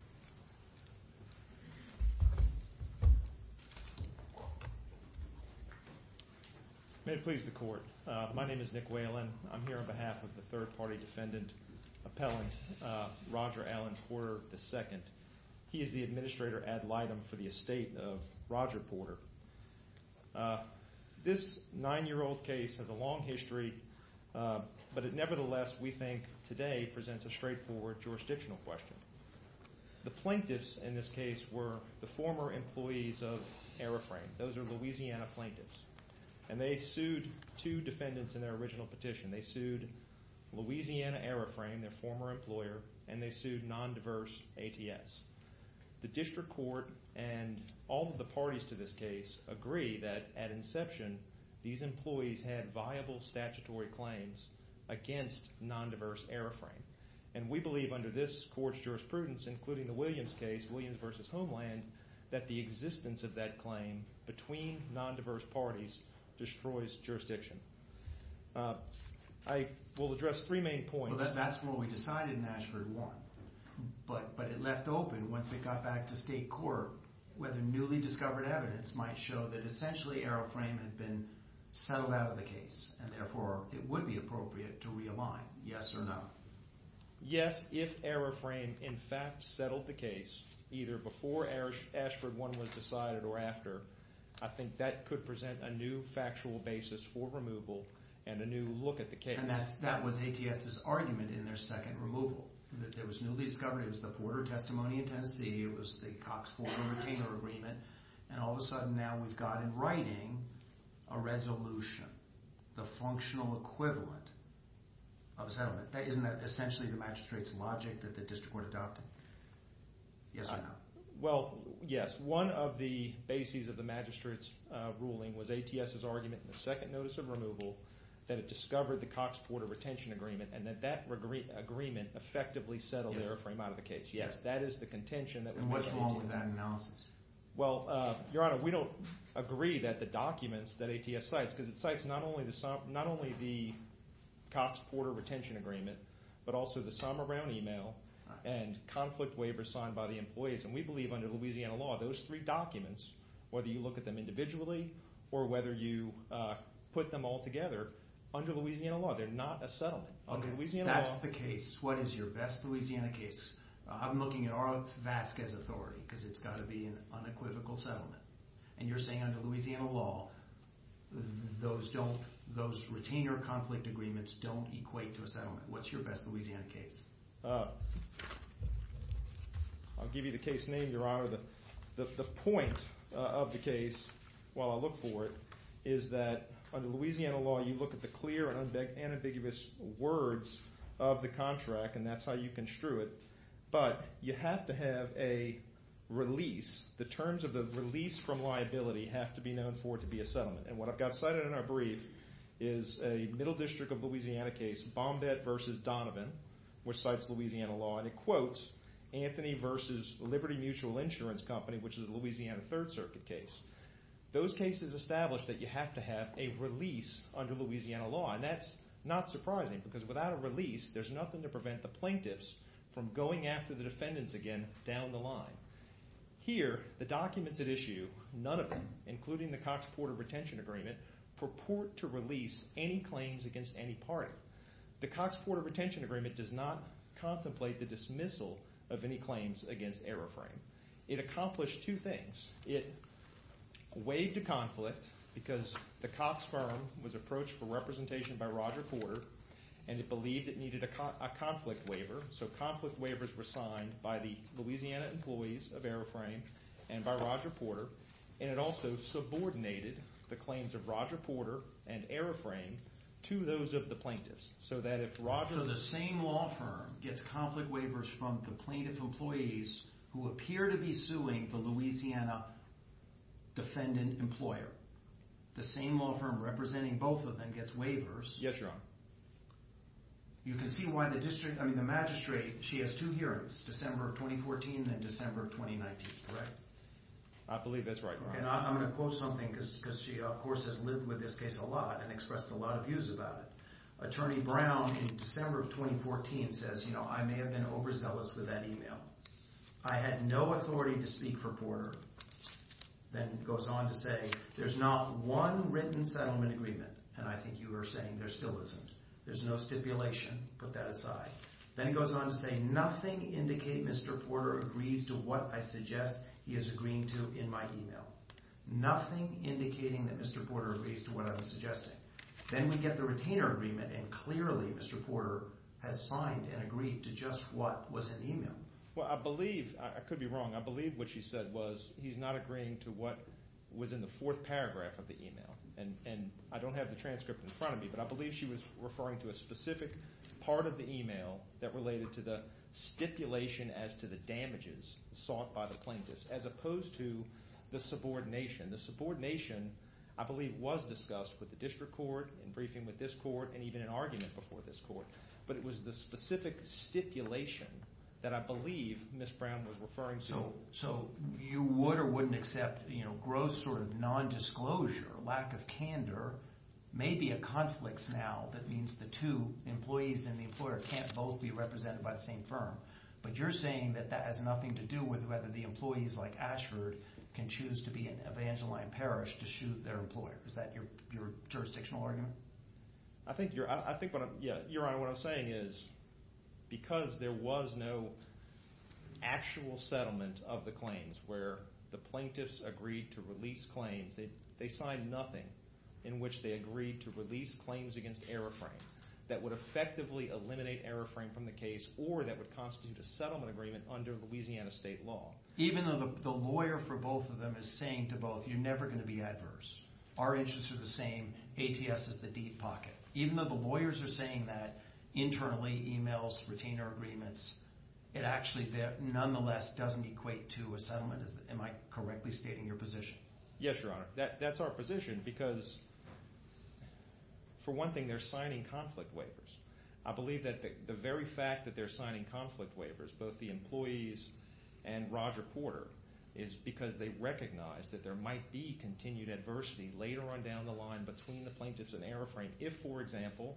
Nick Whalen May it please the court, my name is Nick Whalen. I'm here on behalf of the third party defendant, appellant Roger Allen Porter II. He is the administrator ad litem for the estate of Roger Porter. This nine year old case has a long history, but it nevertheless we think today presents a straightforward jurisdictional question. The plaintiffs in this case were the former employees of AeroFrame. Those are Louisiana plaintiffs. And they sued two defendants in their original petition. They sued Louisiana AeroFrame, their former employer, and they sued Nondiverse ATS. The district court and all of the parties to this case agree that at inception these employees had viable statutory claims against Nondiverse AeroFrame. And we believe under this court's jurisprudence, including the Williams case, Williams v. Homeland, that the existence of that claim between Nondiverse parties destroys jurisdiction. I will address three main points. Well, that's where we decided in Ashford one, but it left open once it got back to state court whether newly discovered evidence might show that essentially AeroFrame had been settled out of the case and therefore it would be appropriate to realign, yes or no. Yes, if AeroFrame in fact settled the case, either before Ashford one was decided or after, I think that could present a new factual basis for removal and a new look at the case. And that was ATS's argument in their second removal, that there was newly discovered. It was the Porter testimony in Tennessee. It was the Cox-Porter-Retainer agreement. And all of a sudden now we've got in writing a resolution, the functional equivalent of a settlement. Isn't that essentially the magistrate's logic that the district court adopted? Yes or no? Well, yes. One of the bases of the magistrate's ruling was ATS's argument in the second notice of removal that it discovered the Cox-Porter-Retainer agreement and that that agreement effectively settled AeroFrame out of the case. Yes, that is the contention. And what's wrong with that analysis? Well, Your Honor, we don't agree that the documents that ATS cites, because it cites not only the Cox-Porter-Retainer agreement, but also the Somer Brown email and conflict waiver signed by the employees. And we believe under Louisiana law, those three documents, whether you look at them individually or whether you put them all together, under Louisiana law, they're not a settlement. Okay, that's the case. What is your best Louisiana case? I'm looking at R.L. Vasquez's authority because it's got to be an unequivocal settlement. And you're saying under Louisiana law, those retainer conflict agreements don't equate to a settlement. What's your best Louisiana case? I'll give you the case name, Your Honor. The point of the case, while I look for it, is that under Louisiana law, you look at the clear and ambiguous words of the contract, and that's how you construe it. But you have to have a release. The terms of the release from liability have to be known for it to be a settlement. And what I've got cited in our brief is a Middle District of Louisiana case, Bombette v. Donovan, which cites Louisiana law, and it quotes Anthony v. Liberty Mutual Insurance Company, which is a Louisiana Third Circuit case. Those cases establish that you have to have a release under Louisiana law, and that's not surprising because without a release, there's nothing to prevent the plaintiffs from going after the defendants again down the line. Here, the documents at issue, none of them, including the Cox Porter Retention Agreement, purport to release any claims against any party. The Cox Porter Retention Agreement does not contemplate the dismissal of any claims against Aeroframe. It accomplished two things. It waived a conflict because the Cox firm was approached for representation by Roger Porter, and it believed it needed a conflict waiver, so conflict waivers were signed by the Louisiana employees of Aeroframe and by Roger Porter, and it also subordinated the claims of Roger Porter and Aeroframe to those of the plaintiffs So the same law firm gets conflict waivers from the plaintiff employees who appear to be suing the Louisiana defendant employer. The same law firm representing both of them gets waivers. Yes, Your Honor. You can see why the magistrate, she has two hearings, December of 2014 and December of 2019, correct? I believe that's right, Your Honor. I'm going to quote something because she, of course, has lived with this case a lot and expressed a lot of views about it. Attorney Brown, in December of 2014, says, you know, I may have been overzealous with that email. I had no authority to speak for Porter. Then goes on to say, there's not one written settlement agreement, and I think you are saying there still isn't. There's no stipulation. Put that aside. Then it goes on to say, nothing indicate Mr. Porter agrees to what I suggest he is agreeing to in my email. Nothing indicating that Mr. Porter agrees to what I'm suggesting. Then we get the retainer agreement, and clearly Mr. Porter has signed and agreed to just what was in the email. Well, I believe – I could be wrong. I believe what she said was he's not agreeing to what was in the fourth paragraph of the email. And I don't have the transcript in front of me, but I believe she was referring to a specific part of the email that related to the stipulation as to the damages sought by the plaintiffs as opposed to the subordination. The subordination, I believe, was discussed with the district court, in briefing with this court, and even in argument before this court. But it was the specific stipulation that I believe Ms. Brown was referring to. So you would or wouldn't accept gross sort of nondisclosure, lack of candor, maybe a conflicts now that means the two employees and the employer can't both be represented by the same firm. But you're saying that that has nothing to do with whether the employees like Ashford can choose to be in Evangeline Parish to shoot their employer. Is that your jurisdictional argument? I think what I'm – yeah, Your Honor, what I'm saying is because there was no actual settlement of the claims where the plaintiffs agreed to release claims. They signed nothing in which they agreed to release claims against error frame that would effectively eliminate error frame from the case or that would constitute a settlement agreement under Louisiana state law. Even though the lawyer for both of them is saying to both, you're never going to be adverse. Our interests are the same. ATS is the deep pocket. Even though the lawyers are saying that internally, emails, retainer agreements, it actually nonetheless doesn't equate to a settlement. Am I correctly stating your position? Yes, Your Honor. That's our position because for one thing, they're signing conflict waivers. I believe that the very fact that they're signing conflict waivers, both the employees and Roger Porter, is because they recognize that there might be continued adversity later on down the line between the plaintiffs and error frame if, for example,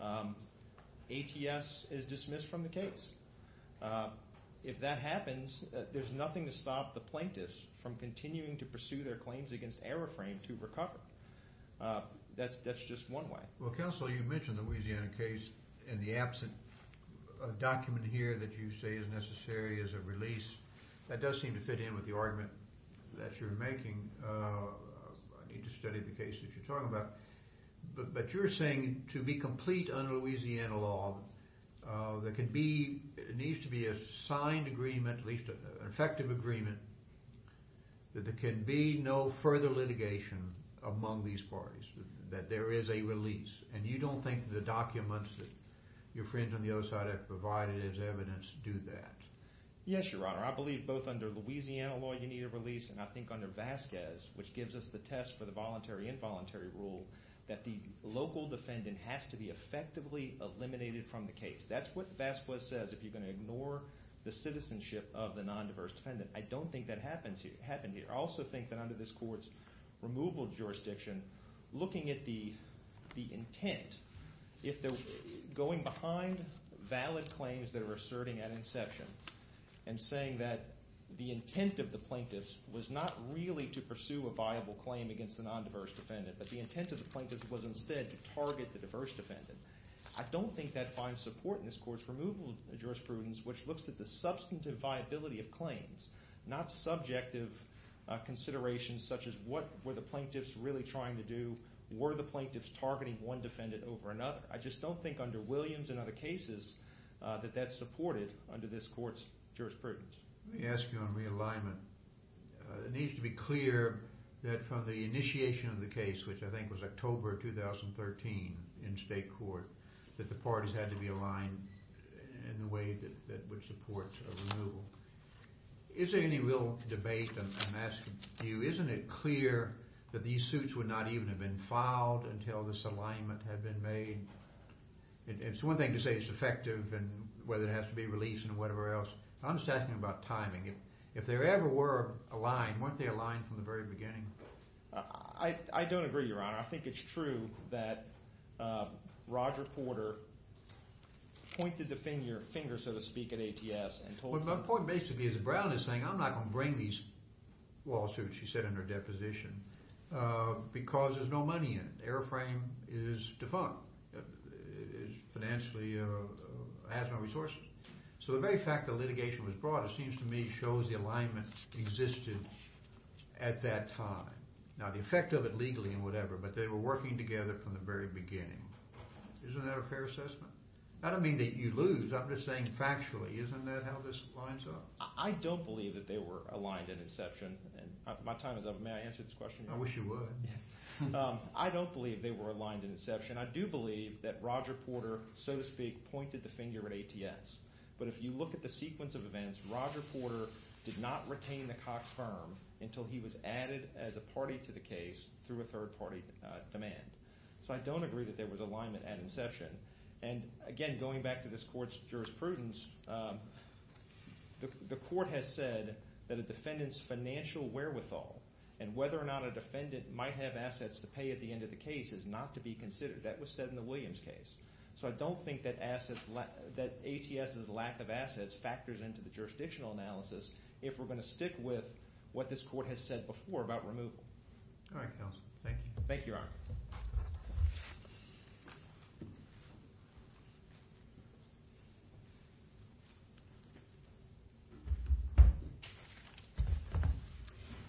ATS is dismissed from the case. If that happens, there's nothing to stop the plaintiffs from continuing to pursue their claims against error frame to recover. That's just one way. Well, counsel, you mentioned the Louisiana case and the absent document here that you say is necessary as a release. That does seem to fit in with the argument that you're making. I need to study the case that you're talking about. But you're saying to be complete under Louisiana law, there needs to be a signed agreement, at least an effective agreement, that there can be no further litigation among these parties, that there is a release. And you don't think the documents that your friend on the other side has provided as evidence do that? Yes, Your Honor. I believe both under Louisiana law you need a release and I think under Vasquez, which gives us the test for the voluntary-involuntary rule, that the local defendant has to be effectively eliminated from the case. That's what Vasquez says if you're going to ignore the citizenship of the nondiverse defendant. I don't think that happens here. I also think that under this court's removal jurisdiction, looking at the intent, going behind valid claims that are asserting at inception and saying that the intent of the plaintiffs was not really to pursue a viable claim against the nondiverse defendant, but the intent of the plaintiffs was instead to target the diverse defendant. I don't think that finds support in this court's removal jurisprudence, which looks at the substantive viability of claims, not subjective considerations such as what were the plaintiffs really trying to do, were the plaintiffs targeting one defendant over another. I just don't think under Williams and other cases that that's supported under this court's jurisprudence. Let me ask you on realignment. It needs to be clear that from the initiation of the case, which I think was October 2013 in state court, that the parties had to be aligned in a way that would support a removal. Is there any real debate, I'm asking you, isn't it clear that these suits would not even have been filed until this alignment had been made? It's one thing to say it's effective and whether it has to be released and whatever else. I'm just asking about timing. If there ever were a line, weren't they aligned from the very beginning? I don't agree, Your Honor. I think it's true that Roger Porter pointed the finger, so to speak, at ATS and told them… My point basically is that Brown is saying I'm not going to bring these lawsuits, she said in her deposition, because there's no money in it. The airframe is defunct. It financially has no resources. So the very fact that litigation was brought, it seems to me, shows the alignment existed at that time. Now, the effect of it legally and whatever, but they were working together from the very beginning. Isn't that a fair assessment? I don't mean that you lose. I'm just saying factually, isn't that how this lines up? I don't believe that they were aligned at inception. My time is up. May I answer this question, Your Honor? I wish you would. I don't believe they were aligned at inception. I do believe that Roger Porter, so to speak, pointed the finger at ATS. But if you look at the sequence of events, Roger Porter did not retain the Cox firm until he was added as a party to the case through a third-party demand. So I don't agree that there was alignment at inception. And, again, going back to this court's jurisprudence, the court has said that a defendant's financial wherewithal and whether or not a defendant might have assets to pay at the end of the case is not to be considered. That was said in the Williams case. So I don't think that ATS's lack of assets factors into the jurisdictional analysis if we're going to stick with what this court has said before about removal. All right, counsel. Thank you. Thank you, Your Honor. Thank you.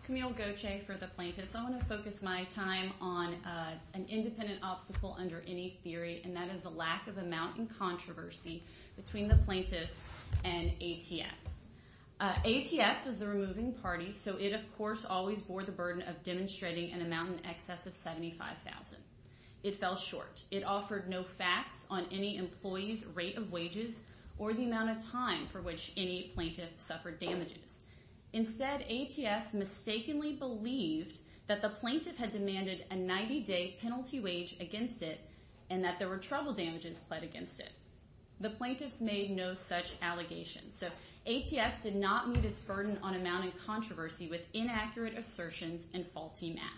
Camille Gauthier for the plaintiffs. I want to focus my time on an independent obstacle under any theory, and that is the lack of amount in controversy between the plaintiffs and ATS. ATS was the removing party, so it, of course, always bore the burden of demonstrating an amount in excess of $75,000. It fell short. It offered no facts on any employee's rate of wages or the amount of time for which any plaintiff suffered damages. Instead, ATS mistakenly believed that the plaintiff had demanded a 90-day penalty wage against it and that there were trouble damages pled against it. The plaintiffs made no such allegations. So ATS did not meet its burden on amount in controversy with inaccurate assertions and faulty math.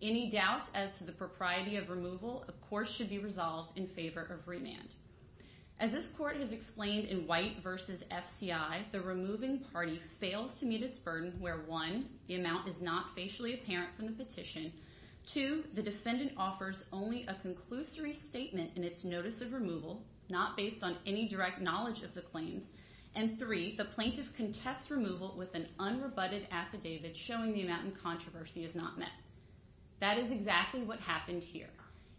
Any doubt as to the propriety of removal, of course, should be resolved in favor of remand. As this court has explained in White v. FCI, the removing party fails to meet its burden where, one, the amount is not facially apparent from the petition. Two, the defendant offers only a conclusory statement in its notice of removal, not based on any direct knowledge of the claims. And three, the plaintiff contests removal with an unrebutted affidavit showing the amount in controversy is not met. That is exactly what happened here.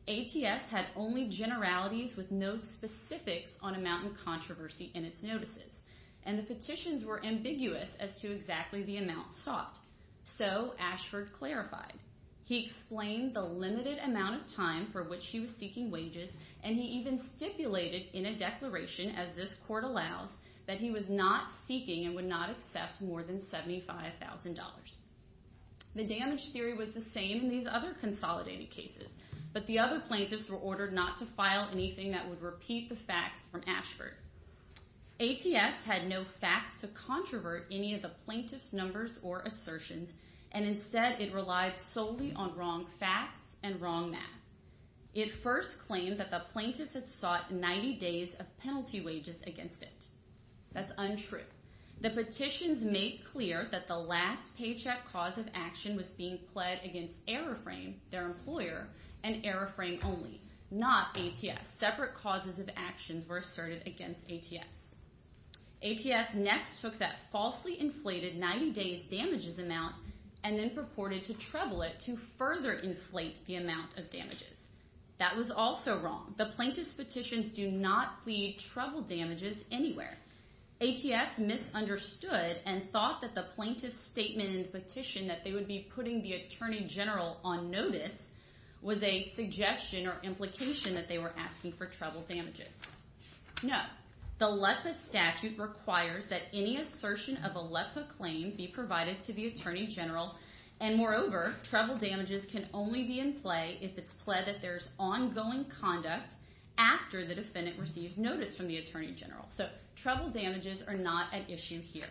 ATS had only generalities with no specifics on amount in controversy in its notices, and the petitions were ambiguous as to exactly the amount sought. So Ashford clarified. He explained the limited amount of time for which he was seeking wages, and he even stipulated in a declaration, as this court allows, that he was not seeking and would not accept more than $75,000. The damage theory was the same in these other consolidated cases, but the other plaintiffs were ordered not to file anything that would repeat the facts from Ashford. ATS had no facts to controvert any of the plaintiff's numbers or assertions, and instead it relied solely on wrong facts and wrong math. It first claimed that the plaintiffs had sought 90 days of penalty wages against it. That's untrue. The petitions made clear that the last paycheck cause of action was being pled against Aeroframe, their employer, and Aeroframe only, not ATS. Separate causes of actions were asserted against ATS. ATS next took that falsely inflated 90 days damages amount and then purported to treble it to further inflate the amount of damages. That was also wrong. The plaintiffs' petitions do not plead treble damages anywhere. ATS misunderstood and thought that the plaintiff's statement in the petition that they would be putting the attorney general on notice was a suggestion or implication that they were asking for treble damages. No. The LEPPA statute requires that any assertion of a LEPPA claim be provided to the attorney general, and moreover, treble damages can only be in play if it's pled that there's ongoing conduct after the defendant receives notice from the attorney general. So treble damages are not at issue here.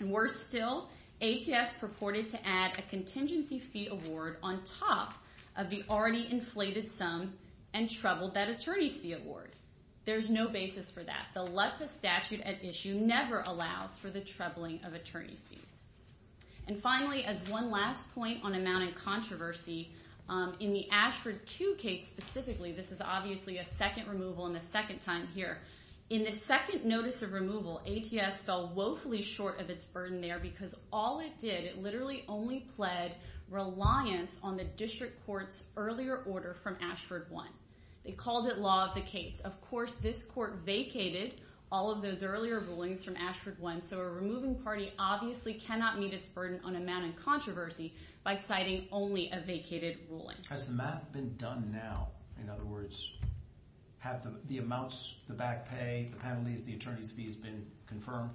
Worse still, ATS purported to add a contingency fee award on top of the already inflated sum and treble that attorney fee award. There's no basis for that. The LEPPA statute at issue never allows for the trebling of attorney fees. And finally, as one last point on amount and controversy, in the Ashford 2 case specifically, this is obviously a second removal and a second time here, in the second notice of removal, ATS fell woefully short of its burden there because all it did, it literally only pled reliance on the district court's earlier order from Ashford 1. They called it law of the case. Of course, this court vacated all of those earlier rulings from Ashford 1, so a removing party obviously cannot meet its burden on amount and controversy by citing only a vacated ruling. Has the math been done now? In other words, have the amounts, the back pay, the penalties, the attorney's fees been confirmed?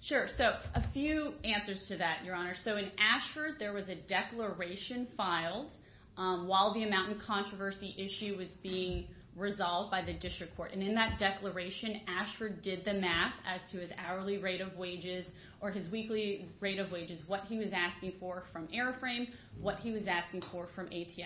Sure. So a few answers to that, Your Honor. So in Ashford, there was a declaration filed while the amount and controversy issue was being resolved by the district court. And in that declaration, Ashford did the math as to his hourly rate of wages or his weekly rate of wages, what he was asking for from AeroFrame, what he was asking for from ATS.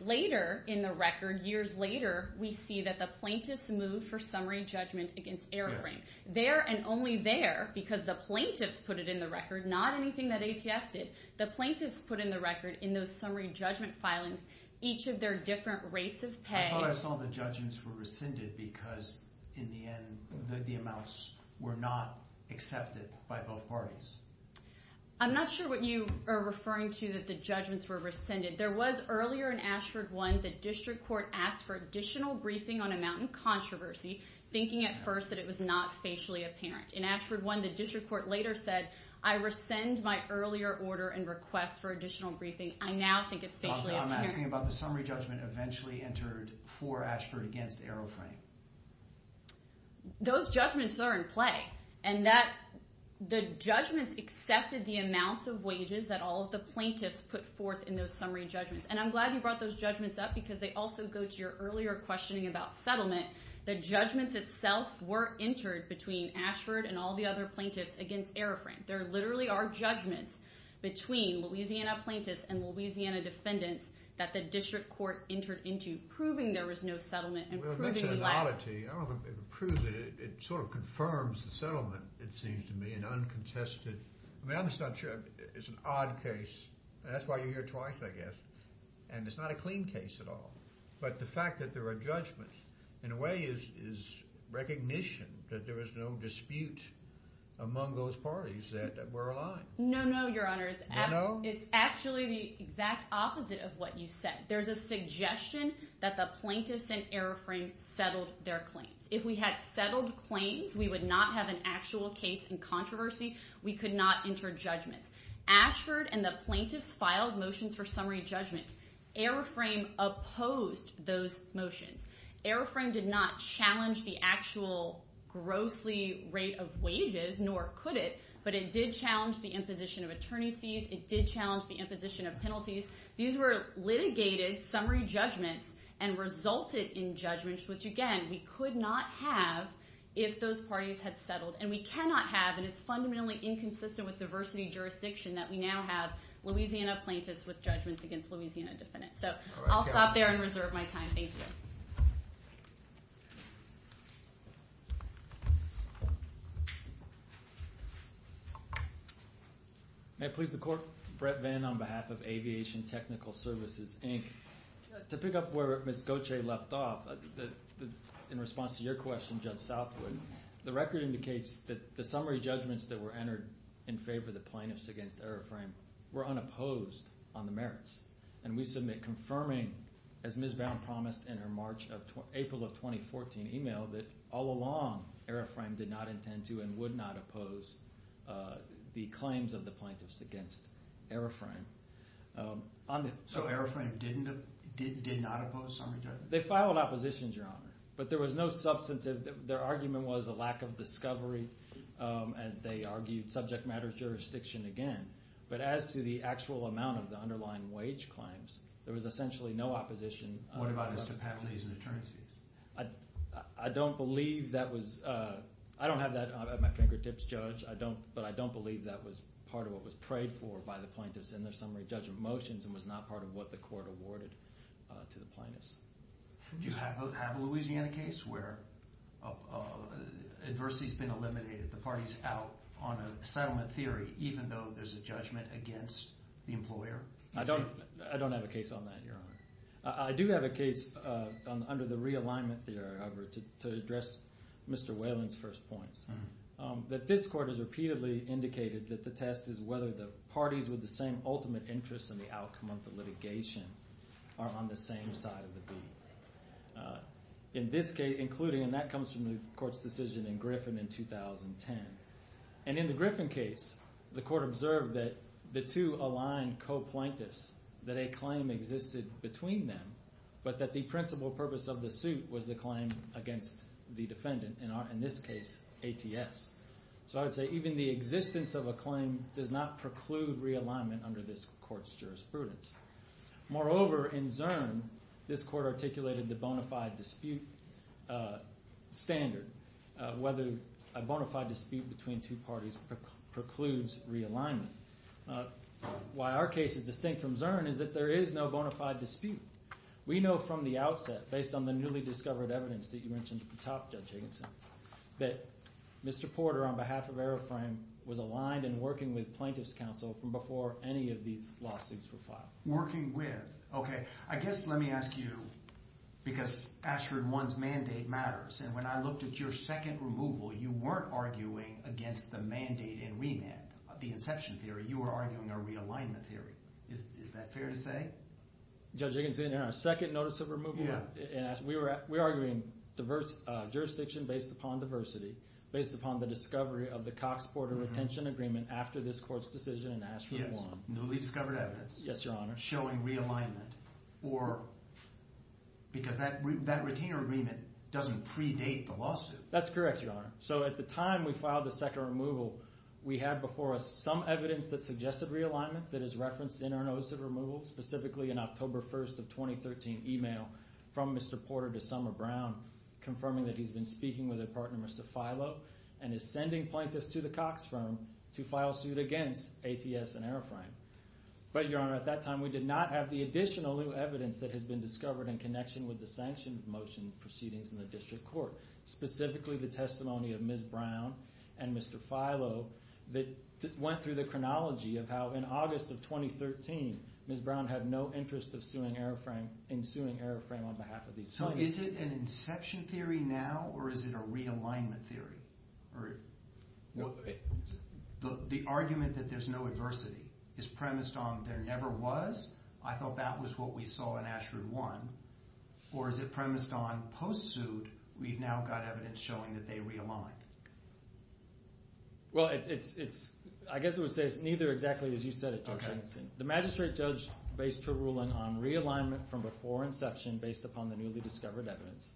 Later in the record, years later, we see that the plaintiffs moved for summary judgment against AeroFrame. There and only there, because the plaintiffs put it in the record, not anything that ATS did, the plaintiffs put in the record in those summary judgment filings each of their different rates of pay. I thought I saw the judgments were rescinded because in the end the amounts were not accepted by both parties. I'm not sure what you are referring to that the judgments were rescinded. There was earlier in Ashford one, the district court asked for additional briefing on amount and controversy, thinking at first that it was not facially apparent. In Ashford one, the district court later said, I rescind my earlier order and request for additional briefing. I now think it's facially apparent. I'm asking about the summary judgment eventually entered for Ashford against AeroFrame. Those judgments are in play and the judgments accepted the amounts of wages that all of the plaintiffs put forth in those summary judgments. I'm glad you brought those judgments up because they also go to your earlier questioning about settlement. The judgments itself were entered between Ashford and all the other plaintiffs against AeroFrame. There literally are judgments between Louisiana plaintiffs and Louisiana defendants that the district court entered into proving there was no settlement and proving lack. Well, that's an oddity. I don't know if it proves it. It sort of confirms the settlement, it seems to me, and uncontested. I mean, I'm just not sure. It's an odd case. That's why you're here twice, I guess. And it's not a clean case at all. But the fact that there are judgments in a way is recognition that there was no dispute among those parties that were aligned. No, no, Your Honor. No, no? It's actually the exact opposite of what you said. There's a suggestion that the plaintiffs and AeroFrame settled their claims. If we had settled claims, we would not have an actual case in controversy. We could not enter judgments. Ashford and the plaintiffs filed motions for summary judgment. AeroFrame opposed those motions. AeroFrame did not challenge the actual gross rate of wages, nor could it, but it did challenge the imposition of attorney's fees. It did challenge the imposition of penalties. These were litigated summary judgments and resulted in judgments, which, again, we could not have if those parties had settled. And we cannot have, and it's fundamentally inconsistent with diversity jurisdiction, that we now have Louisiana plaintiffs with judgments against Louisiana defendants. So I'll stop there and reserve my time. Thank you. Thank you. May it please the Court? Brett Vann on behalf of Aviation Technical Services, Inc. To pick up where Ms. Gauthier left off, in response to your question, Judge Southwood, the record indicates that the summary judgments that were entered in favor of the plaintiffs against AeroFrame were unopposed on the merits, and we submit confirming, as Ms. Bowne promised in her April of 2014 email, that all along AeroFrame did not intend to and would not oppose the claims of the plaintiffs against AeroFrame. So AeroFrame did not oppose summary judgments? They filed oppositions, Your Honor, but there was no substantive – their argument was a lack of discovery, and they argued subject matter jurisdiction again. But as to the actual amount of the underlying wage claims, there was essentially no opposition. What about as to penalties and attorneys fees? I don't believe that was – I don't have that at my fingertips, Judge, but I don't believe that was part of what was prayed for by the plaintiffs in their summary judgment motions and was not part of what the Court awarded to the plaintiffs. Do you have a Louisiana case where adversity has been eliminated, the parties out on a settlement theory, even though there's a judgment against the employer? I don't have a case on that, Your Honor. I do have a case under the realignment theory, however, to address Mr. Whalen's first points, that this Court has repeatedly indicated that the test is whether the parties with the same ultimate interests in the outcome of the litigation are on the same side of the deal. In this case, including – and that comes from the Court's decision in Griffin in 2010. And in the Griffin case, the Court observed that the two aligned co-plaintiffs, that a claim existed between them, but that the principal purpose of the suit was the claim against the defendant, in this case, ATS. So I would say even the existence of a claim does not preclude realignment under this Court's jurisprudence. Moreover, in Zurn, this Court articulated the bona fide dispute standard, whether a bona fide dispute between two parties precludes realignment. Why our case is distinct from Zurn is that there is no bona fide dispute. We know from the outset, based on the newly discovered evidence that you mentioned at the top, Judge Higginson, that Mr. Porter, on behalf of Aeroframe, was aligned in working with plaintiffs' counsel from before any of these lawsuits were filed. Working with? Okay. I guess let me ask you, because Ashford One's mandate matters, and when I looked at your second removal, you weren't arguing against the mandate in remand, the inception theory. You were arguing a realignment theory. Is that fair to say? Judge Higginson, in our second notice of removal, we were arguing jurisdiction based upon diversity, based upon the discovery of the Cox-Porter retention agreement after this Court's decision in Ashford One. Yes. Newly discovered evidence. Yes, Your Honor. Showing realignment. Because that retainer agreement doesn't predate the lawsuit. That's correct, Your Honor. So at the time we filed the second removal, we had before us some evidence that suggested realignment that is referenced in our notice of removal, specifically an October 1st of 2013 email from Mr. Porter to Summer Brown confirming that he's been speaking with a partner, Mr. Filo, and is sending plaintiffs to the Cox firm to file suit against ATS and Airframe. But, Your Honor, at that time we did not have the additional new evidence that has been discovered in connection with the sanctioned motion proceedings in the District Court, specifically the testimony of Ms. Brown and Mr. Filo that went through the chronology of how in August of 2013 Ms. Brown had no interest in suing Airframe on behalf of these plaintiffs. So is it an inception theory now or is it a realignment theory? The argument that there's no adversity is premised on there never was. I thought that was what we saw in ASHRAE 1. Or is it premised on post-suit we've now got evidence showing that they realigned? Well, I guess I would say it's neither exactly as you said it, Judge Henson. The magistrate judge based her ruling on realignment from before inception based upon the newly discovered evidence.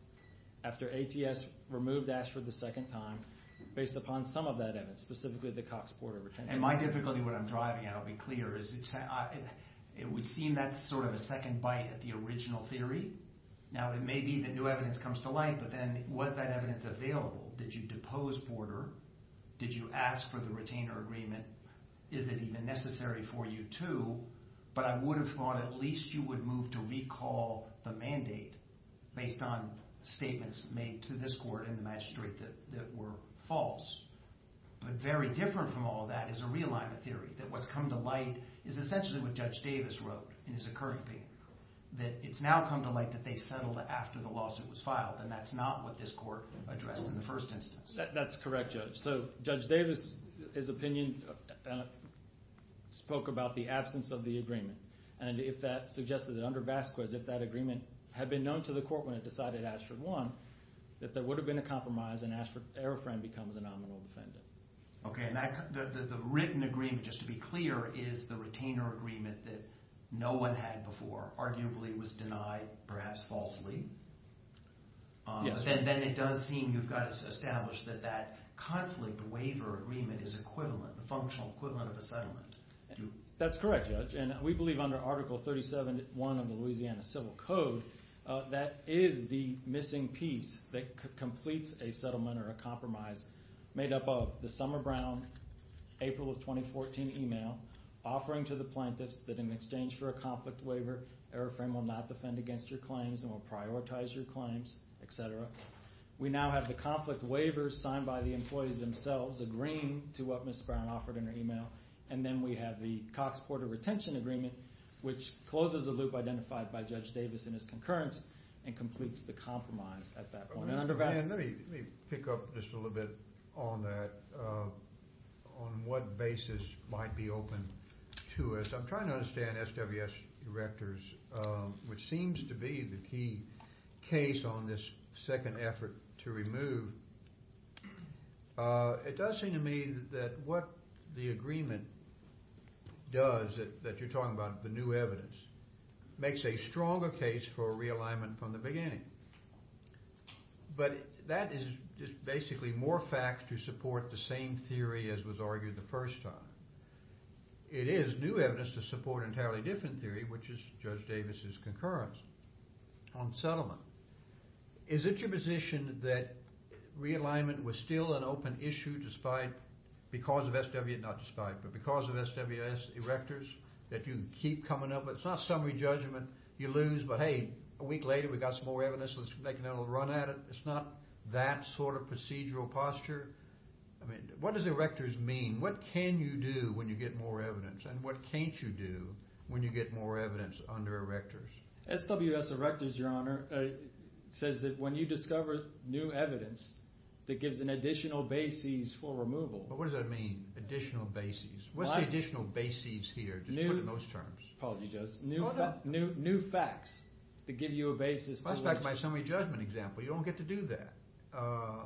After ATS removed ASHRAE the second time based upon some of that evidence, specifically the Cox border retention agreement. And my difficulty when I'm driving, and I'll be clear, is it would seem that's sort of a second bite at the original theory. Now, it may be that new evidence comes to light, but then was that evidence available? Did you depose border? Did you ask for the retainer agreement? Is it even necessary for you to? But I would have thought at least you would move to recall the mandate based on statements made to this court and the magistrate that were false. But very different from all that is a realignment theory that what's come to light is essentially what Judge Davis wrote in his occurring opinion. That it's now come to light that they settled after the lawsuit was filed and that's not what this court addressed in the first instance. That's correct, Judge. So, Judge Davis, his opinion spoke about the absence of the agreement. And if that suggested that under Vasquez, if that agreement had been known to the court when it decided Ashford won, that there would have been a compromise and Ashford Aerofran becomes a nominal defendant. Okay, and the written agreement, just to be clear, is the retainer agreement that no one had before, arguably was denied perhaps falsely. Yes. But then it does seem you've got to establish that that conflict waiver agreement is equivalent, the functional equivalent of a settlement. That's correct, Judge. And we believe under Article 37.1 of the Louisiana Civil Code that is the missing piece that completes a settlement or a compromise made up of the Summer Brown April of 2014 email offering to the plaintiffs that in exchange for a conflict waiver, Aerofran will not defend against your claims and will prioritize your claims, et cetera. We now have the conflict waiver signed by the employees themselves agreeing to what Ms. Brown offered in her email. And then we have the Cox Porter Retention Agreement, which closes the loop identified by Judge Davis in his concurrence and completes the compromise at that point. Let me pick up just a little bit on that, on what basis might be open to us. I'm trying to understand SWS erectors, which seems to be the key case on this second effort to remove. It does seem to me that what the agreement does, that you're talking about the new evidence, makes a stronger case for realignment from the beginning. But that is just basically more facts to support the same theory as was argued the first time. It is new evidence to support an entirely different theory, which is Judge Davis' concurrence on settlement. Is it your position that realignment was still an open issue despite, because of SWS, not despite, but because of SWS erectors, that you can keep coming up, but it's not summary judgment, you lose, but hey, a week later we got some more evidence, let's make another little run at it. It's not that sort of procedural posture. I mean, what does erectors mean? What can you do when you get more evidence, and what can't you do when you get more evidence under erectors? SWS erectors, Your Honor, says that when you discover new evidence that gives an additional basis for removal. But what does that mean, additional basis? What's the additional basis here, just put it in those terms? New facts that give you a basis. That's back to my summary judgment example. You don't get to do that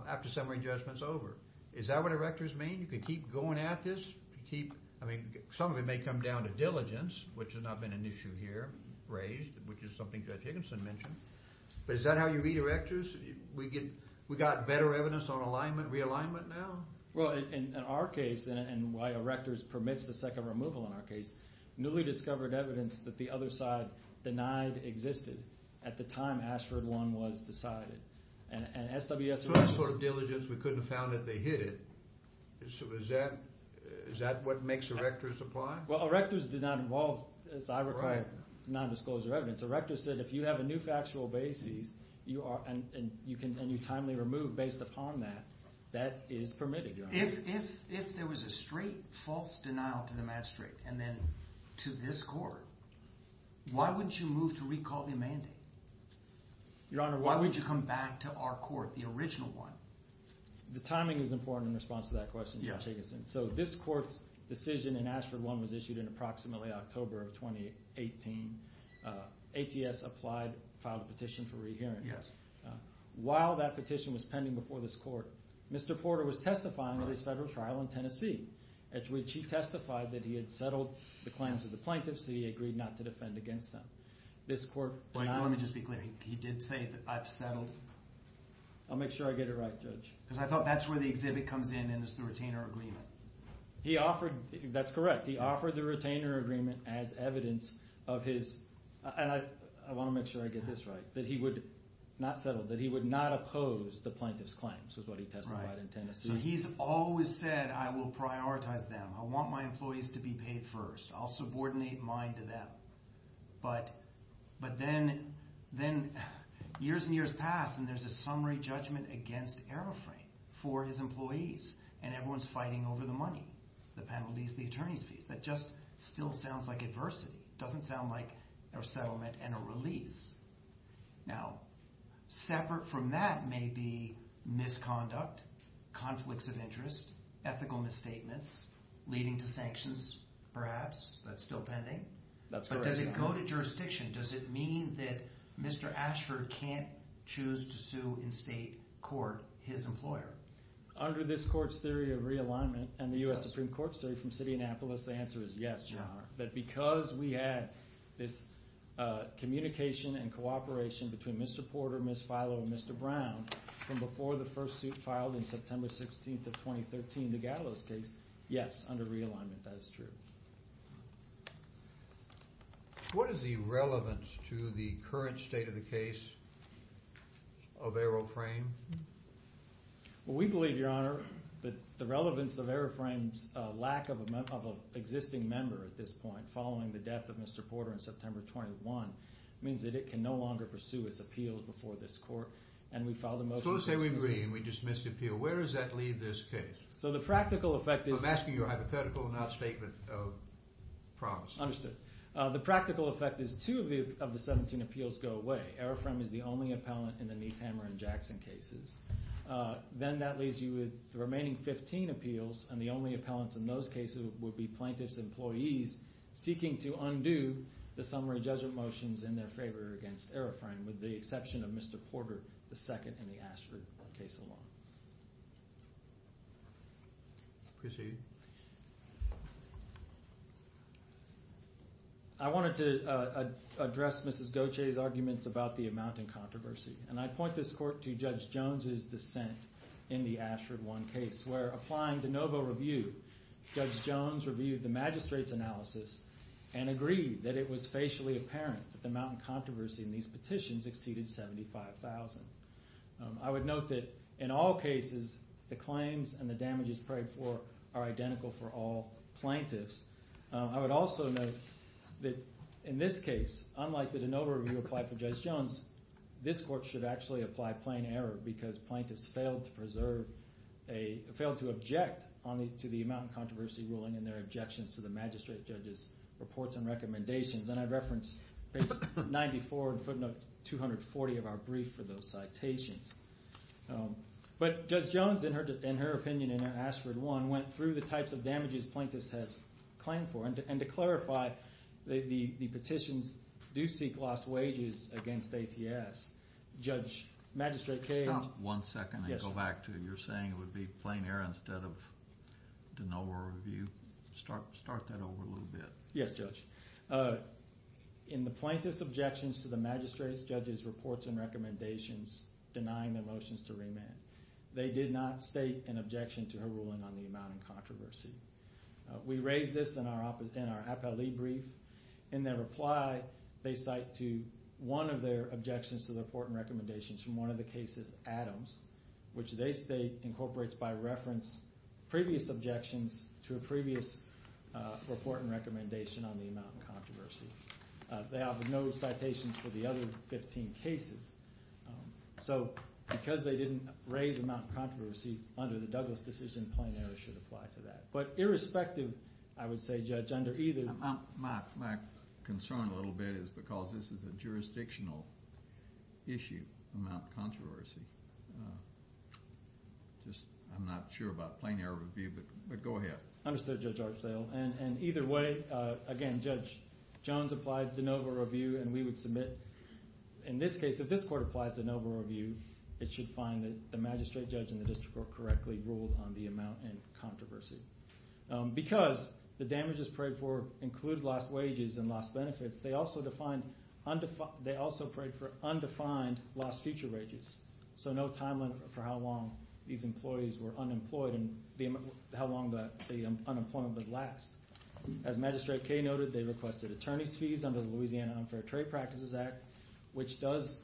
after summary judgment's over. Is that what erectors mean? You can keep going at this? I mean, some of it may come down to diligence, which has not been an issue here, raised, which is something Judge Higginson mentioned. But is that how you read erectors? We got better evidence on realignment now? Well, in our case, and why erectors permits the second removal in our case, newly discovered evidence that the other side denied existed at the time Ashford One was decided. And SWS erectors— We couldn't have found that they hid it. Is that what makes erectors apply? Well, erectors did not involve, as I recall, non-disclosure evidence. Erectors said if you have a new factual basis and you timely remove based upon that, that is permitted, Your Honor. If there was a straight false denial to the match straight and then to this court, why wouldn't you move to recall the amending? Your Honor, why would you— The timing is important in response to that question, Judge Higginson. So this court's decision in Ashford One was issued in approximately October of 2018. ATS applied, filed a petition for rehearing. Yes. While that petition was pending before this court, Mr. Porter was testifying at his federal trial in Tennessee, at which he testified that he had settled the claims of the plaintiffs and he agreed not to defend against them. This court— Wait, let me just be clear. He did say that I've settled— I'll make sure I get it right, Judge. Because I thought that's where the exhibit comes in and it's the retainer agreement. He offered—that's correct. He offered the retainer agreement as evidence of his— and I want to make sure I get this right— that he would not settle, that he would not oppose the plaintiffs' claims was what he testified in Tennessee. Right. He's always said, I will prioritize them. I want my employees to be paid first. I'll subordinate mine to them. But then years and years pass, and there's a summary judgment against Aeroframe for his employees, and everyone's fighting over the money, the penalties, the attorney's fees. That just still sounds like adversity. It doesn't sound like a settlement and a release. Now, separate from that may be misconduct, conflicts of interest, ethical misstatements, leading to sanctions, perhaps. That's still pending. But does it go to jurisdiction? Does it mean that Mr. Ashford can't choose to sue in state court his employer? Under this court's theory of realignment and the U.S. Supreme Court's theory from City Annapolis, the answer is yes, John. That because we had this communication and cooperation between Mr. Porter, Ms. Filo, and Mr. Brown from before the first suit filed in September 16th of 2013, the Gallows case, yes, under realignment, that is true. What is the relevance to the current state of the case of Aeroframe? We believe, Your Honor, that the relevance of Aeroframe's lack of an existing member at this point following the death of Mr. Porter in September 21 means that it can no longer pursue its appeal before this court, and we filed a motion to dismiss it. So let's say we agree and we dismiss the appeal. Where does that leave this case? So the practical effect is— I'm asking you a hypothetical, not a statement of promise. Understood. The practical effect is two of the 17 appeals go away. Aeroframe is the only appellant in the Neithammer and Jackson cases. Then that leaves you with the remaining 15 appeals, and the only appellants in those cases would be plaintiffs' employees seeking to undo the summary judgment motions in their favor against Aeroframe, with the exception of Mr. Porter II in the Ashford case alone. Proceed. I wanted to address Mrs. Gauthier's arguments about the amount in controversy, and I point this court to Judge Jones's dissent in the Ashford I case, where applying de novo review, Judge Jones reviewed the magistrate's analysis and agreed that it was facially apparent that the amount in controversy in these petitions exceeded $75,000. I would note that in all cases, the claims and the damages prayed for are identical for all plaintiffs. I would also note that in this case, unlike the de novo review applied for Judge Jones, this court should actually apply plain error because plaintiffs failed to preserve a— failed to object to the amount in controversy ruling in their objections to the magistrate judge's reports and recommendations. And I reference page 94 and footnote 240 of our brief for those citations. But Judge Jones, in her opinion in her Ashford I, went through the types of damages plaintiffs had claimed for, and to clarify, the petitions do seek lost wages against ATS. Judge, Magistrate Cage— Stop one second and go back to your saying it would be plain error instead of de novo review. Start that over a little bit. Yes, Judge. In the plaintiff's objections to the magistrate judge's reports and recommendations denying the motions to remand, they did not state an objection to her ruling on the amount in controversy. We raise this in our appellee brief. In their reply, they cite to one of their objections to the report and recommendations from one of the cases, Adams, which they state incorporates by reference previous objections to a previous report and recommendation on the amount in controversy. They have no citations for the other 15 cases. So because they didn't raise amount in controversy under the Douglas decision, plain error should apply to that. But irrespective, I would say, Judge, under either— My concern a little bit is because this is a jurisdictional issue, amount in controversy. I'm not sure about plain error review, but go ahead. Understood, Judge Archdale. And either way, again, Judge Jones applied de novo review and we would submit. In this case, if this court applies de novo review, it should find that the magistrate judge and the district court correctly ruled on the amount in controversy. Because the damages prayed for include lost wages and lost benefits, they also prayed for undefined lost future wages. So no timeline for how long these employees were unemployed and how long the unemployment would last. As Magistrate Kaye noted, they requested attorney's fees under the Louisiana Unfair Trade Practices Act, which does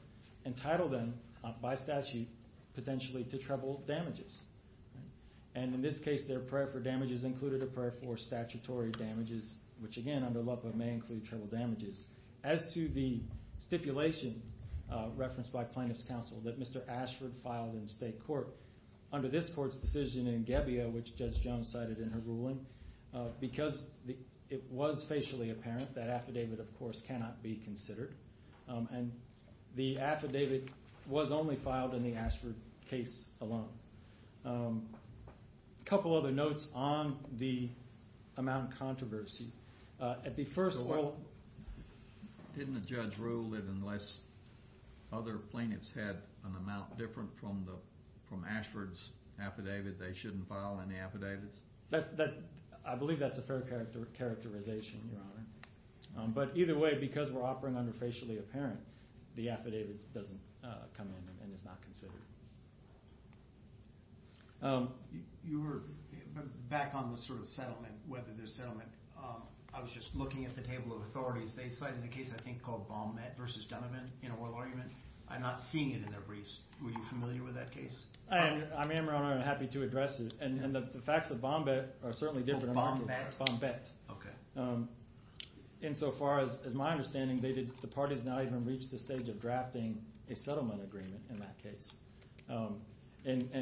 entitle them by statute potentially to treble damages. And in this case, their prayer for damages included a prayer for statutory damages, which, again, under LEPA may include treble damages. As to the stipulation referenced by plaintiff's counsel that Mr. Ashford filed in state court, under this court's decision in Gebbia, which Judge Jones cited in her ruling, because it was facially apparent that affidavit, of course, cannot be considered, and the affidavit was only filed in the Ashford case alone. A couple other notes on the amount in controversy. At the first world... Didn't the judge rule that unless other plaintiffs had an amount different from Ashford's affidavit, they shouldn't file any affidavits? I believe that's a fair characterization, Your Honor. But either way, because we're operating under facially apparent, the affidavit doesn't come in and is not considered. You were back on the sort of settlement, whether there's settlement. I was just looking at the table of authorities. They cited a case I think called Bombette v. Donovan in a oral argument. I'm not seeing it in their briefs. Were you familiar with that case? I am, Your Honor, and I'm happy to address it. And the facts of Bombette are certainly different. Oh, Bombette? Bombette. Okay. Insofar as my understanding, the parties now even reach the stage of drafting a settlement agreement in that case. In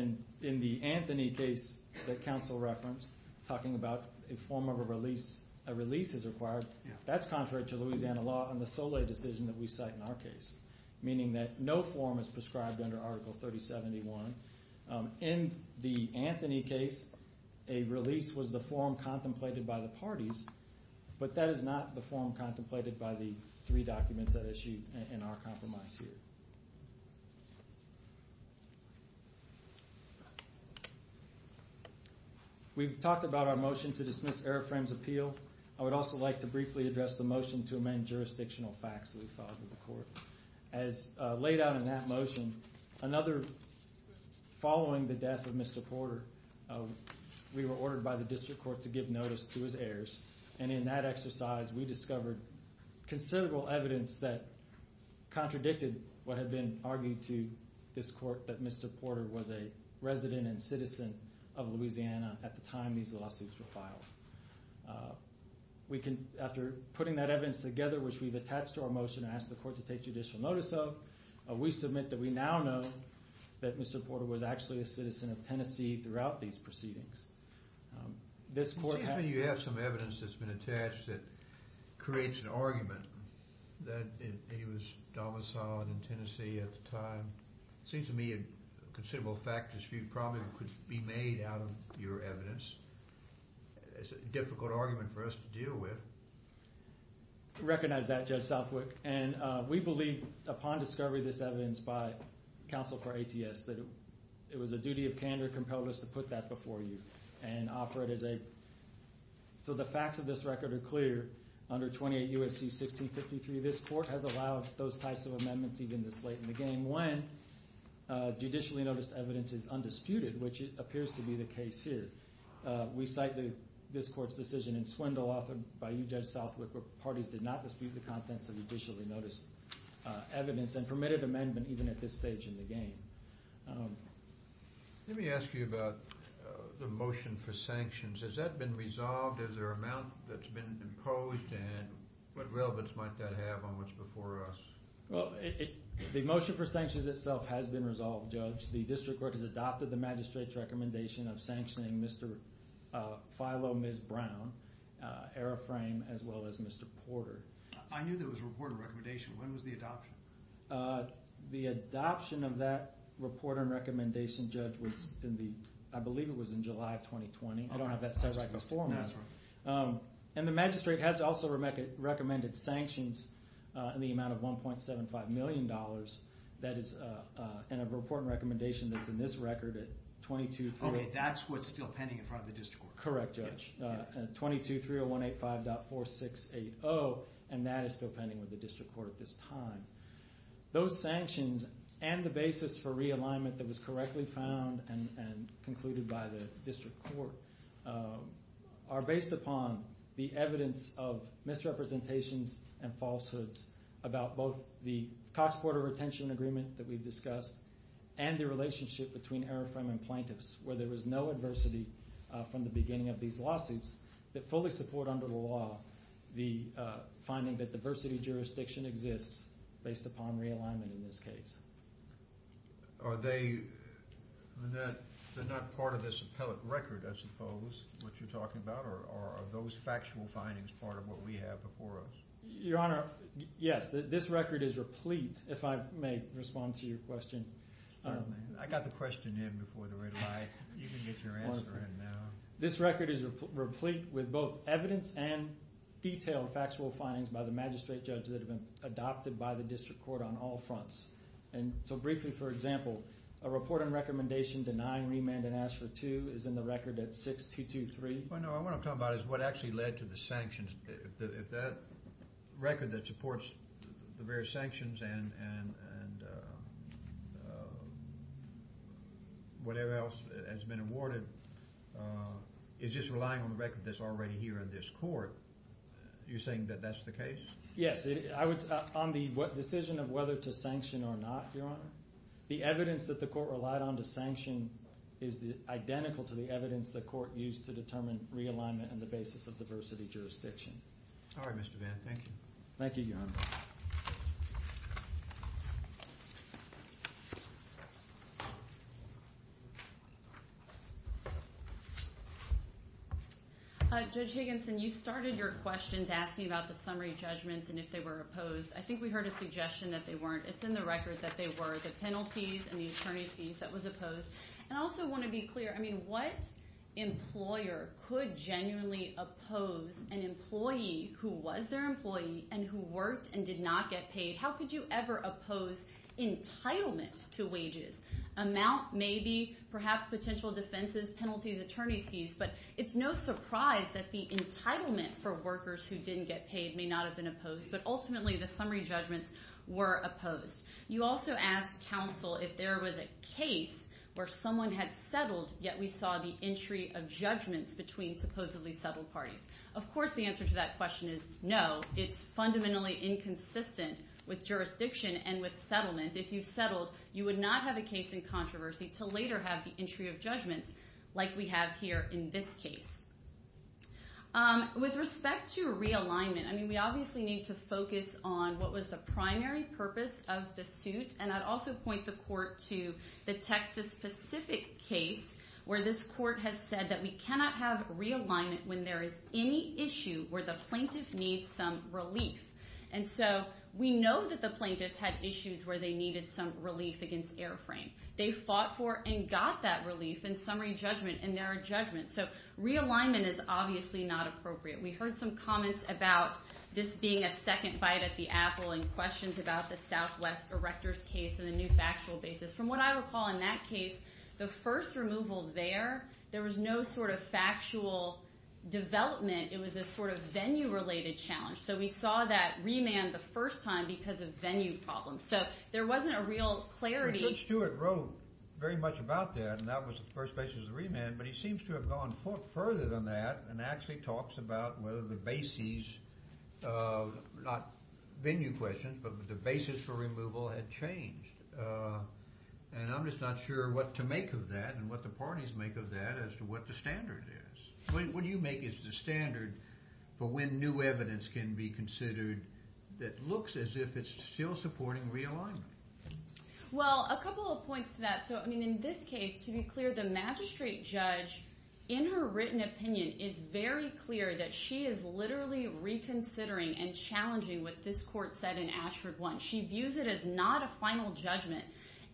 the Anthony case that counsel referenced, talking about a form of a release is required, that's contrary to Louisiana law and the Soleil decision that we cite in our case, meaning that no form is prescribed under Article 3071. In the Anthony case, a release was the form contemplated by the parties, but that is not the form contemplated by the three documents that are issued in our compromise here. We've talked about our motion to dismiss Erafraim's appeal. I would also like to briefly address the motion to amend jurisdictional facts that we filed with the court. As laid out in that motion, following the death of Mr. Porter, we were ordered by the district court to give notice to his heirs, and in that exercise we discovered considerable evidence that contradicted what had been argued to this court, that Mr. Porter was a resident and citizen of Louisiana at the time these lawsuits were filed. After putting that evidence together, which we've attached to our motion, and asked the court to take judicial notice of, we submit that we now know that Mr. Porter was actually a citizen of Tennessee throughout these proceedings. This court has... It seems to me you have some evidence that's been attached that creates an argument that he was domiciled in Tennessee at the time. It seems to me a considerable fact dispute probably could be made out of your evidence. It's a difficult argument for us to deal with. We recognize that, Judge Southwick, and we believe upon discovery of this evidence by counsel for ATS that it was a duty of candor compelled us to put that before you and offer it as a... So the facts of this record are clear. Under 28 U.S.C. 1653, this court has allowed those types of amendments even this late in the game, when judicially noticed evidence is undisputed, which appears to be the case here. We cite this court's decision in Swindle, authored by you, Judge Southwick, where parties did not dispute the contents of judicially noticed evidence and permitted amendment even at this stage in the game. Let me ask you about the motion for sanctions. Has that been resolved? Is there an amount that's been imposed? And what relevance might that have on what's before us? Well, the motion for sanctions itself has been resolved, Judge. The district court has adopted the magistrate's recommendation of sanctioning Mr. Filo, Ms. Brown, Araframe, as well as Mr. Porter. I knew there was a report and recommendation. When was the adoption? The adoption of that report and recommendation, Judge, was in the, I believe it was in July of 2020. I don't have that set right before me. And the magistrate has also recommended sanctions in the amount of $1.75 million. That is in a report and recommendation that's in this record at 2230. Okay, that's what's still pending in front of the district court. Correct, Judge. 2230185.4680, and that is still pending with the district court at this time. Those sanctions and the basis for realignment that was correctly found and concluded by the district court are based upon the evidence of misrepresentations and falsehoods about both the Cox-Porter retention agreement that we've discussed and the relationship between Araframe and plaintiffs, where there was no adversity from the beginning of these lawsuits that fully support under the law the finding that diversity jurisdiction exists based upon realignment in this case. Are they not part of this appellate record, I suppose, what you're talking about, or are those factual findings part of what we have before us? Your Honor, yes. This record is replete, if I may respond to your question. I got the question in before the red light. You can get your answer in now. This record is replete with both evidence and detailed factual findings by the magistrate judge that have been adopted by the district court on all fronts. And so briefly, for example, a report and recommendation denying remand and ask for two is in the record at 6223. No, what I'm talking about is what actually led to the sanctions. If that record that supports the various sanctions and whatever else has been awarded is just relying on the record that's already here in this court, you're saying that that's the case? Yes. On the decision of whether to sanction or not, Your Honor, the evidence that the court relied on to sanction is identical to the evidence the court used to determine realignment and the basis of diversity jurisdiction. All right, Mr. Vann. Thank you. Thank you, Your Honor. Judge Higginson, you started your questions asking about the summary judgments and if they were opposed. I think we heard a suggestion that they weren't. It's in the record that they were, the penalties and the attorney fees that was opposed. And I also want to be clear. I mean, what employer could genuinely oppose an employee who was their employee and who worked and did not get paid? How could you ever oppose entitlement to wages? Amount maybe, perhaps potential defenses, penalties, attorney's fees. But it's no surprise that the entitlement for workers who didn't get paid may not have been opposed. But ultimately, the summary judgments were opposed. You also asked counsel if there was a case where someone had settled, yet we saw the entry of judgments between supposedly settled parties. Of course, the answer to that question is no. It's fundamentally inconsistent with jurisdiction and with settlement. If you've settled, you would not have a case in controversy to later have the entry of judgments like we have here in this case. With respect to realignment, I mean, we obviously need to focus on what was the primary purpose of the suit. And I'd also point the court to the Texas Pacific case where this court has said that we cannot have realignment when there is any issue where the plaintiff needs some relief. And so we know that the plaintiffs had issues where they needed some relief against airframe. They fought for and got that relief in summary judgment, and there are judgments. So realignment is obviously not appropriate. We heard some comments about this being a second fight at the apple and questions about the Southwest Erector's case and the new factual basis. From what I recall in that case, the first removal there, there was no sort of factual development. It was a sort of venue-related challenge. So we saw that remand the first time because of venue problems. So there wasn't a real clarity. Richard Stewart wrote very much about that, and that was the first basis of remand, but he seems to have gone further than that and actually talks about whether the basis, not venue questions, but the basis for removal had changed. And I'm just not sure what to make of that and what the parties make of that as to what the standard is. What do you make as the standard for when new evidence can be considered that looks as if it's still supporting realignment? Well, a couple of points to that. So, I mean, in this case, to be clear, the magistrate judge, in her written opinion, is very clear that she is literally reconsidering and challenging what this court said in Ashford one. She views it as not a final judgment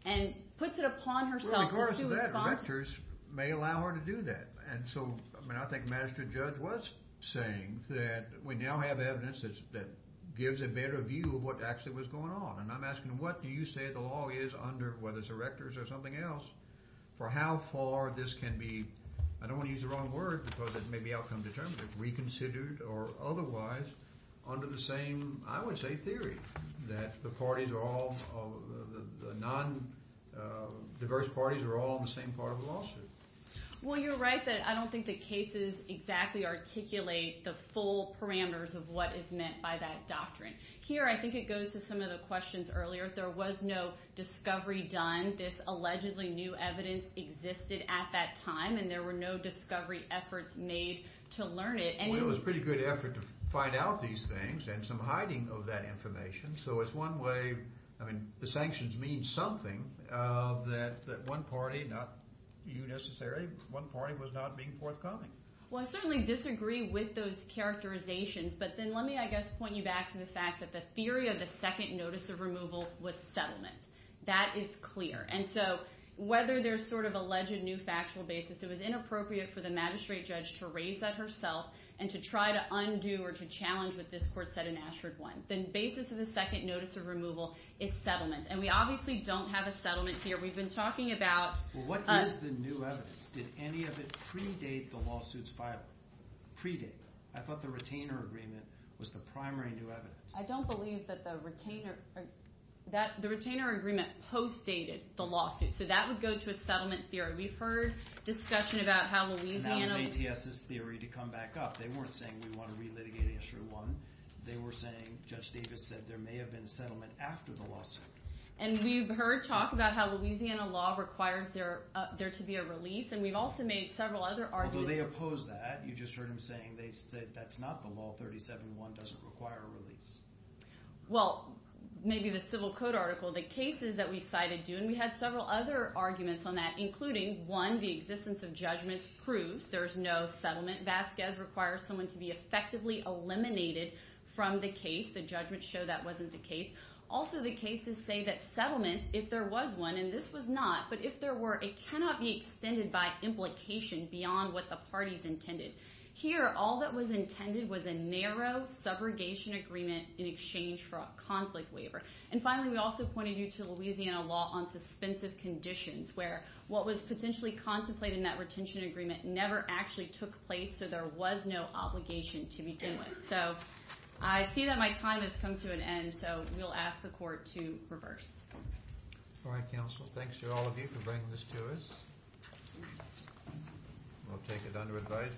and puts it upon herself to respond. Well, in regards to that, rectors may allow her to do that. And so, I mean, I think the magistrate judge was saying that we now have evidence that gives a better view of what actually was going on. And I'm asking, what do you say the law is under, whether it's the rectors or something else, for how far this can be, I don't want to use the wrong word because it may be outcome determinative, reconsidered or otherwise under the same, I would say, theory that the parties are all, the non-diverse parties are all on the same part of the lawsuit. Well, you're right that I don't think the cases exactly articulate the full parameters of what is meant by that doctrine. Here, I think it goes to some of the questions earlier. There was no discovery done. This allegedly new evidence existed at that time and there were no discovery efforts made to learn it. Well, it was a pretty good effort to find out these things and some hiding of that information. So it's one way, I mean, the sanctions mean something that one party, not you necessarily, one party was not being forthcoming. Well, I certainly disagree with those characterizations. But then let me, I guess, point you back to the fact that the theory of the second notice of removal was settlement. That is clear. And so whether there's sort of alleged new factual basis, it was inappropriate for the magistrate judge to raise that herself and to try to undo or to challenge what this court said in Ashford one. The basis of the second notice of removal is settlement. And we obviously don't have a settlement here. We've been talking about us. What is the new evidence? Did any of it predate the lawsuit's filing? Predate? I thought the retainer agreement was the primary new evidence. I don't believe that the retainer agreement postdated the lawsuit. So that would go to a settlement theory. We've heard discussion about how Louisiana. And that was ATS's theory to come back up. They weren't saying we want to re-litigate Ashford one. They were saying, Judge Davis said, there may have been settlement after the lawsuit. And we've heard talk about how Louisiana law requires there to be a release. And we've also made several other arguments. Although they opposed that. You just heard him saying that's not the law. 37-1 doesn't require a release. Well, maybe the civil code article. The cases that we've cited do. And we had several other arguments on that, including, one, the existence of judgments proves there's no settlement. Vasquez requires someone to be effectively eliminated from the case. The judgments show that wasn't the case. Also, the cases say that settlement, if there was one, and this was not, but if there were, it cannot be extended by implication beyond what the parties intended. Here, all that was intended was a narrow subrogation agreement in exchange for a conflict waiver. And finally, we also pointed you to Louisiana law on suspensive conditions where what was potentially contemplated in that retention agreement never actually took place, so there was no obligation to begin with. So I see that my time has come to an end, so we'll ask the court to reverse. All right, counsel, thanks to all of you for bringing this to us. We'll take it under advisement.